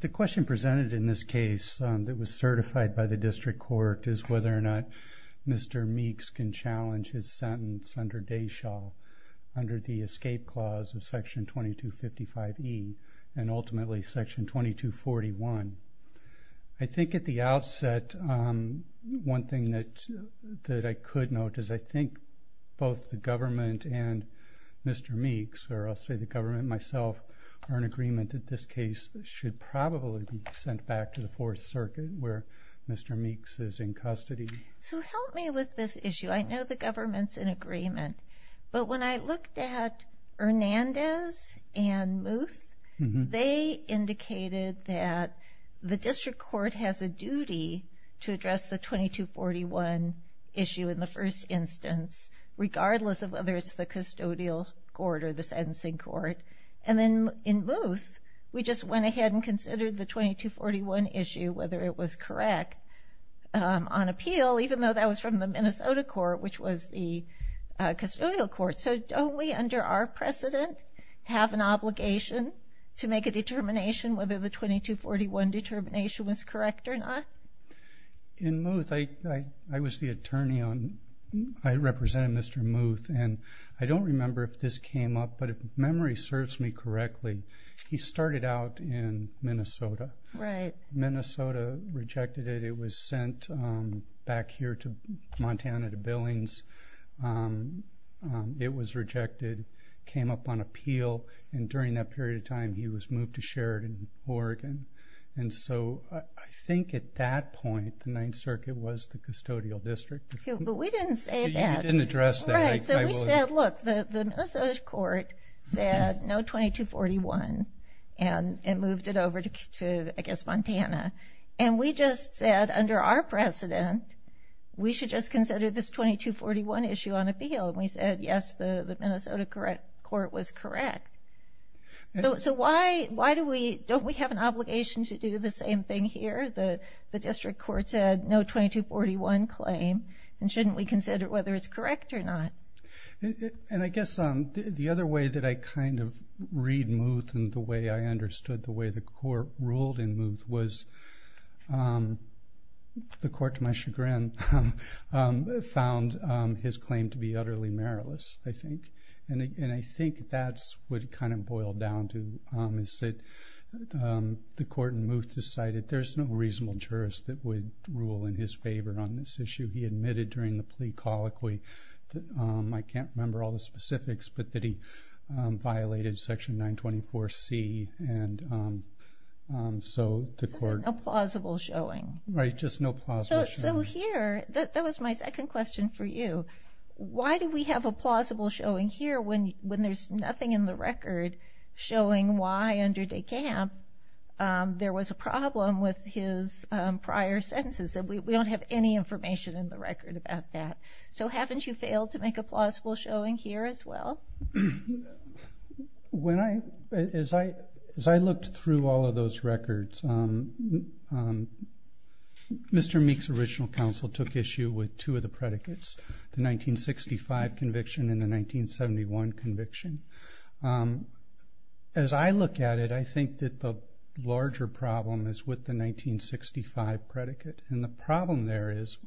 The question presented in this case that was certified by the District Court is whether or not Mr. Meeks can challenge his sentence under Deschal under the escape clause of section 2255e and ultimately section 2241. I think at the outset one thing that I could note is I think both the government and Mr. Meeks, or I'll say the government myself, are in agreement that this case should probably be sent back to the Fourth Circuit where Mr. Meeks is in custody. So help me with this issue. I know the government's in agreement, but when I looked at Hernandez and Muth, they indicated that the District Court has a duty to address the 2241 issue in the first instance regardless of whether it's the custodial court or the sentencing court. And then in Muth, we just went ahead and considered the 2241 issue, whether it was correct on appeal, even though that was from the Minnesota court, which was the custodial court. So don't we under our precedent have an obligation to make a determination whether the 2241 determination was correct or not? In Muth, I was the attorney. I represented Mr. Muth, and I don't remember if this came up, but if memory serves me correctly, he started out in Minnesota. Minnesota rejected it. It was sent back here to Montana to Billings. It was rejected, came up on appeal, and during that period of time he was moved to Sheridan, Oregon. And so I think at that point, the Ninth Circuit was the custodial district. But we didn't say that. You didn't address that. Right. So we said, look, the Minnesota court said no 2241 and moved it over to, I guess, Montana. And we just said under our precedent, we should just consider this 2241 issue on appeal. And we said, yes, the Minnesota court was correct. So why don't we have an obligation to do the same thing here? The district court said no 2241 claim, and shouldn't we consider whether it's correct or not? And I guess the other way that I kind of read Muth and the way I understood the way the court ruled in Muth was the court, to my chagrin, found his claim to be utterly meriless, I think. And I think that's what it kind of boiled down to, is that the court in Muth decided there's no reasonable jurist that would rule in his favor on this issue. He admitted during the plea colloquy, I can't remember all the specifics, but that he violated Section 924C. And so the court- Just no plausible showing. Right, just no plausible showing. So here, that was my second question for you. Why do we have a plausible showing here when there's nothing in the record showing why under De Camp there was a problem with his prior sentences? We don't have any information in the record about that. So haven't you failed to make a plausible showing here as well? As I looked through all of those records, Mr. Meek's original counsel took issue with two of the predicates, the 1965 conviction and the 1971 conviction. As I look at it, I think that the larger problem is with the 1965 predicate. And the problem there is,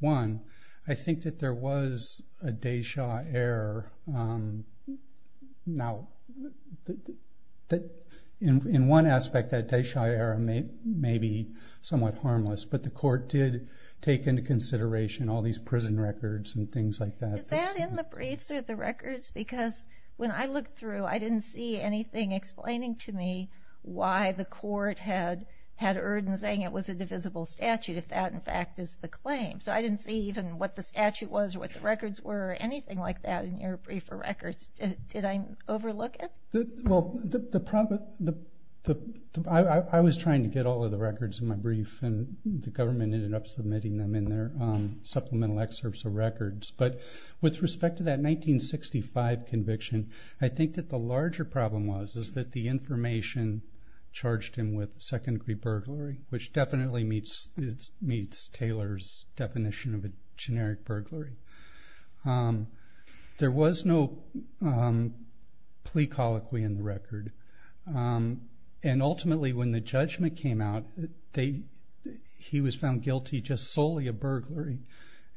one, I think that there was a de jure error. Now, in one aspect, that de jure error may be somewhat harmless. But the court did take into consideration all these prison records and things like that. Is that in the briefs or the records? Because when I looked through, I didn't see anything explaining to me why the court had erred in saying it was a divisible statute, if that, in fact, is the claim. So I didn't see even what the statute was or what the records were or anything like that in your brief or records. Did I overlook it? Well, I was trying to get all of the records in my brief, and the government ended up submitting them in their supplemental excerpts of records. But with respect to that 1965 conviction, I think that the larger problem was is that the information charged him with second-degree burglary, which definitely meets Taylor's definition of a generic burglary. There was no plea colloquy in the record. And ultimately, when the judgment came out, he was found guilty just solely of burglary.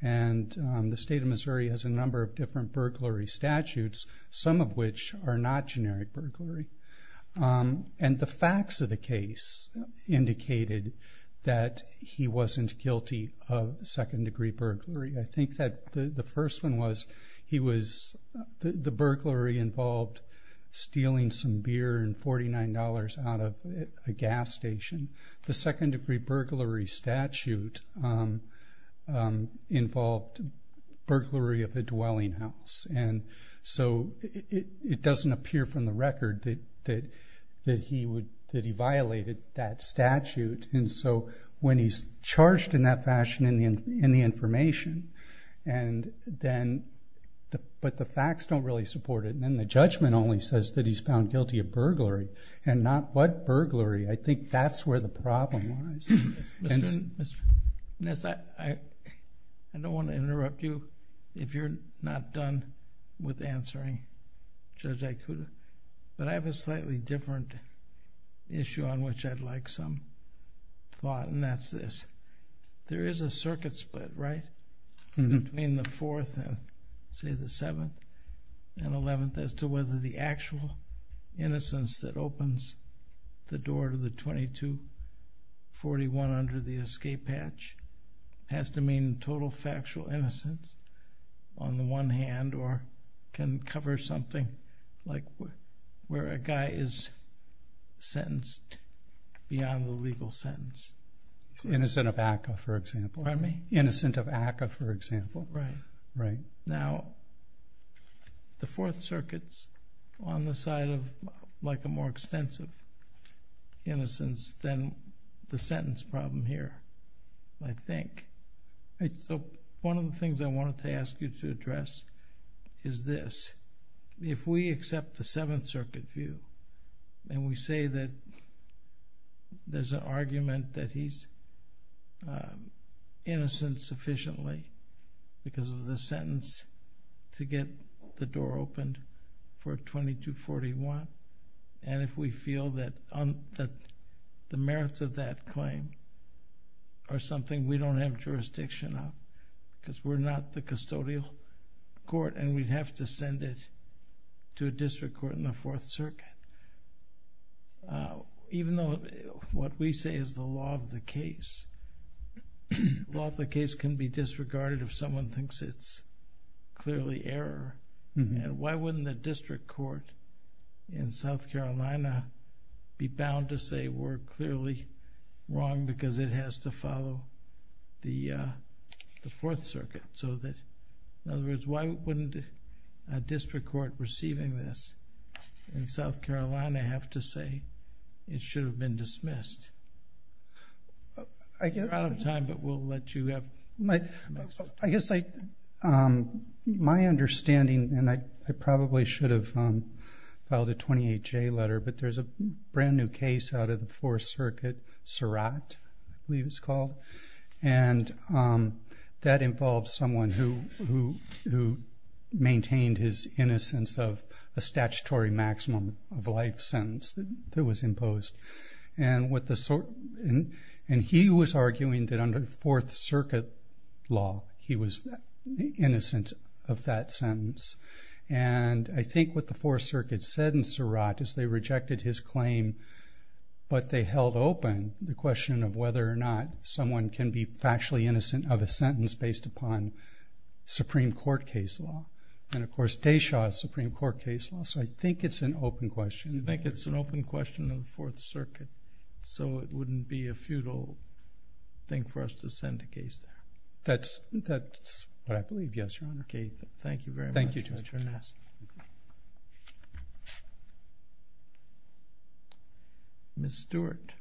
And the state of Missouri has a number of different burglary statutes, some of which are not generic burglary. And the facts of the case indicated that he wasn't guilty of second-degree burglary. I think that the first one was the burglary involved stealing some beer and $49 out of a gas station. The second-degree burglary statute involved burglary of a dwelling house. And so it doesn't appear from the record that he violated that statute. And so when he's charged in that fashion in the information, but the facts don't really support it, and then the judgment only says that he's found guilty of burglary and not what burglary, I think that's where the problem lies. Mr. Ness, I don't want to interrupt you if you're not done with answering Judge Ikuda, but I have a slightly different issue on which I'd like some thought, and that's this. There is a circuit split, right, between the 4th and, say, the 7th and 11th, as to whether the actual innocence that opens the door to the 2241 under the escape hatch has to mean total factual innocence on the one hand, or can cover something like where a guy is sentenced beyond the legal sentence. Innocent of ACCA, for example. Pardon me? Innocent of ACCA, for example. Right. Right. Now, the 4th Circuit's on the side of a more extensive innocence than the sentence problem here, I think. So one of the things I wanted to ask you to address is this. If we accept the 7th Circuit view and we say that there's an argument that he's innocent sufficiently because of the sentence to get the door opened for 2241, and if we feel that the merits of that claim are something we don't have jurisdiction of because we're not the custodial court and we'd have to send it to a district court in the 4th Circuit, even though what we say is the law of the case. The law of the case can be disregarded if someone thinks it's clearly error. And why wouldn't the district court in South Carolina be bound to say we're clearly wrong because it has to follow the 4th Circuit? In other words, why wouldn't a district court receiving this in South Carolina have to say it should have been dismissed? You're out of time, but we'll let you have some extra time. I guess my understanding, and I probably should have filed a 28J letter, but there's a brand new case out of the 4th Circuit, Surratt, I believe it's called, and that involves someone who maintained his innocence of a statutory maximum of life sentence that was imposed. And he was arguing that under 4th Circuit law he was innocent of that sentence. And I think what the 4th Circuit said in Surratt is they rejected his claim, but they held open the question of whether or not someone can be factually innocent of a sentence based upon Supreme Court case law. And, of course, Deshaw's Supreme Court case law, so I think it's an open question. You think it's an open question of the 4th Circuit, so it wouldn't be a futile thing for us to send a case there? That's what I believe, yes, Your Honor. Thank you, Judge. Ms. Stewart.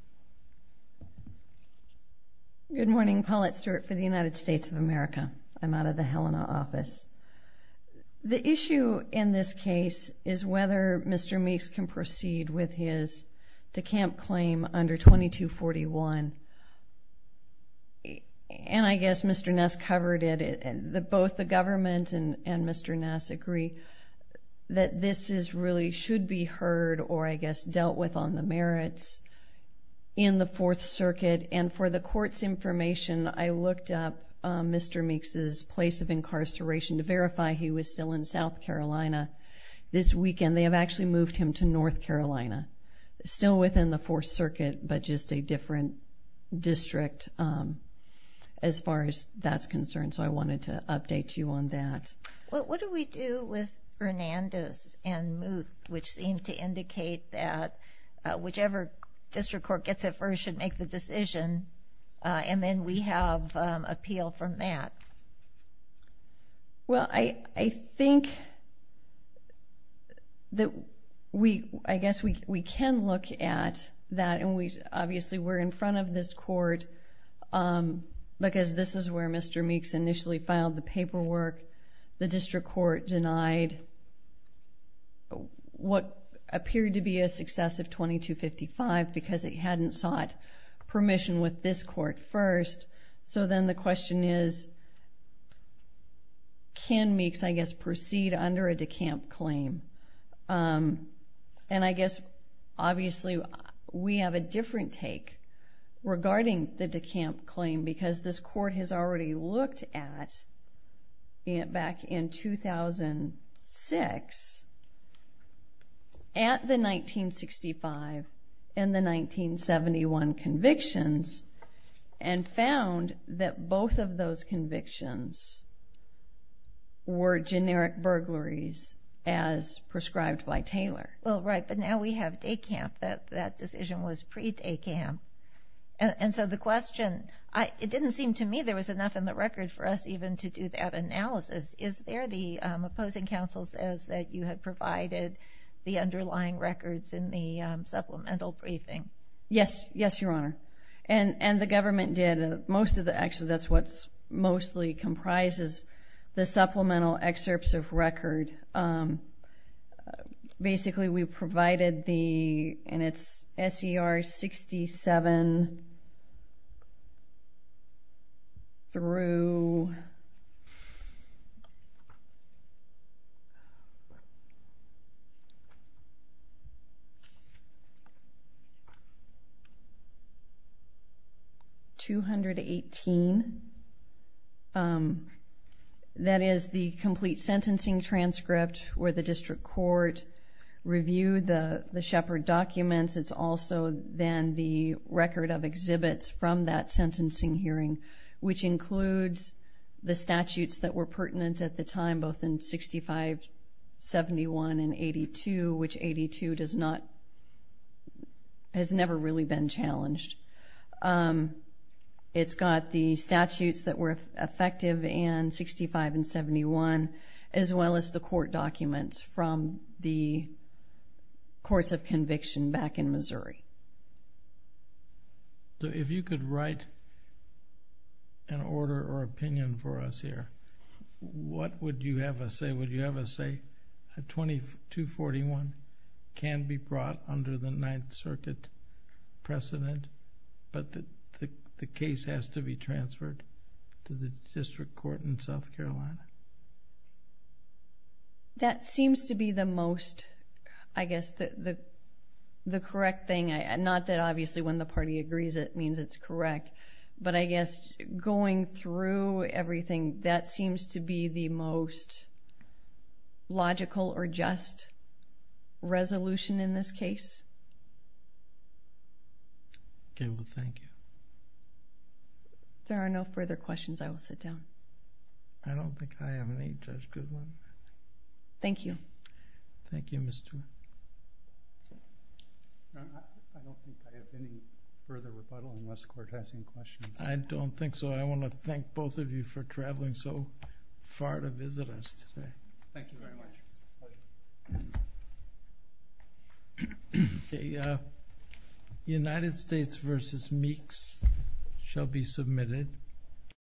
Good morning. Paulette Stewart for the United States of America. I'm out of the Helena office. The issue in this case is whether Mr. Meeks can proceed with his decamp claim under 2241. And I guess Mr. Ness covered it. Both the government and Mr. Ness agree that this really should be heard or, I guess, dealt with on the merits in the 4th Circuit. And for the Court's information, I looked up Mr. Meeks' place of incarceration to verify he was still in South Carolina this weekend. They have actually moved him to North Carolina, still within the 4th Circuit, but just a different district as far as that's concerned. So I wanted to update you on that. What do we do with Fernandez and Moot, which seem to indicate that whichever district court gets it first should make the decision, and then we have appeal from that? Well, I think that we, I guess, we can look at that. And we, obviously, we're in front of this court because this is where Mr. Meeks initially filed the paperwork. The district court denied what appeared to be a successive 2255 because it hadn't sought permission with this court first. So then the question is, can Meeks, I guess, proceed under a decamp claim? And I guess, obviously, we have a different take regarding the decamp claim because this court has already looked at, back in 2006, at the 1965 and the 1971 convictions and found that both of those convictions were generic burglaries as prescribed by Taylor. Well, right, but now we have decamp. That decision was pre-decamp. And so the question, it didn't seem to me there was enough in the record for us even to do that analysis. Is there the opposing counsel says that you had provided the underlying records in the supplemental briefing? Yes. Yes, Your Honor. And the government did. Actually, that's what mostly comprises the supplemental excerpts of record and basically we provided the, and it's S.E.R. 67 through 218. That is the complete sentencing transcript where the district court reviewed the Shepard documents. It's also then the record of exhibits from that sentencing hearing, which includes the statutes that were pertinent at the time, both in 6571 and 82, which 82 has never really been challenged. It's got the statutes that were effective in 65 and 71, as well as the court documents from the courts of conviction back in Missouri. So if you could write an order or opinion for us here, what would you have us say? 2241 can be brought under the Ninth Circuit precedent, but the case has to be transferred to the district court in South Carolina. That seems to be the most, I guess, the correct thing. Not that obviously when the party agrees it means it's correct, but I guess going through everything, that seems to be the most logical or just resolution in this case. Okay. Well, thank you. If there are no further questions, I will sit down. I don't think I have any, Judge Goodwin. Thank you. Thank you, Ms. Stewart. I don't think I have any further rebuttal unless the court has any questions. I don't think so. I want to thank both of you for traveling so far to visit us today. Thank you very much. The United States v. Meeks shall be submitted.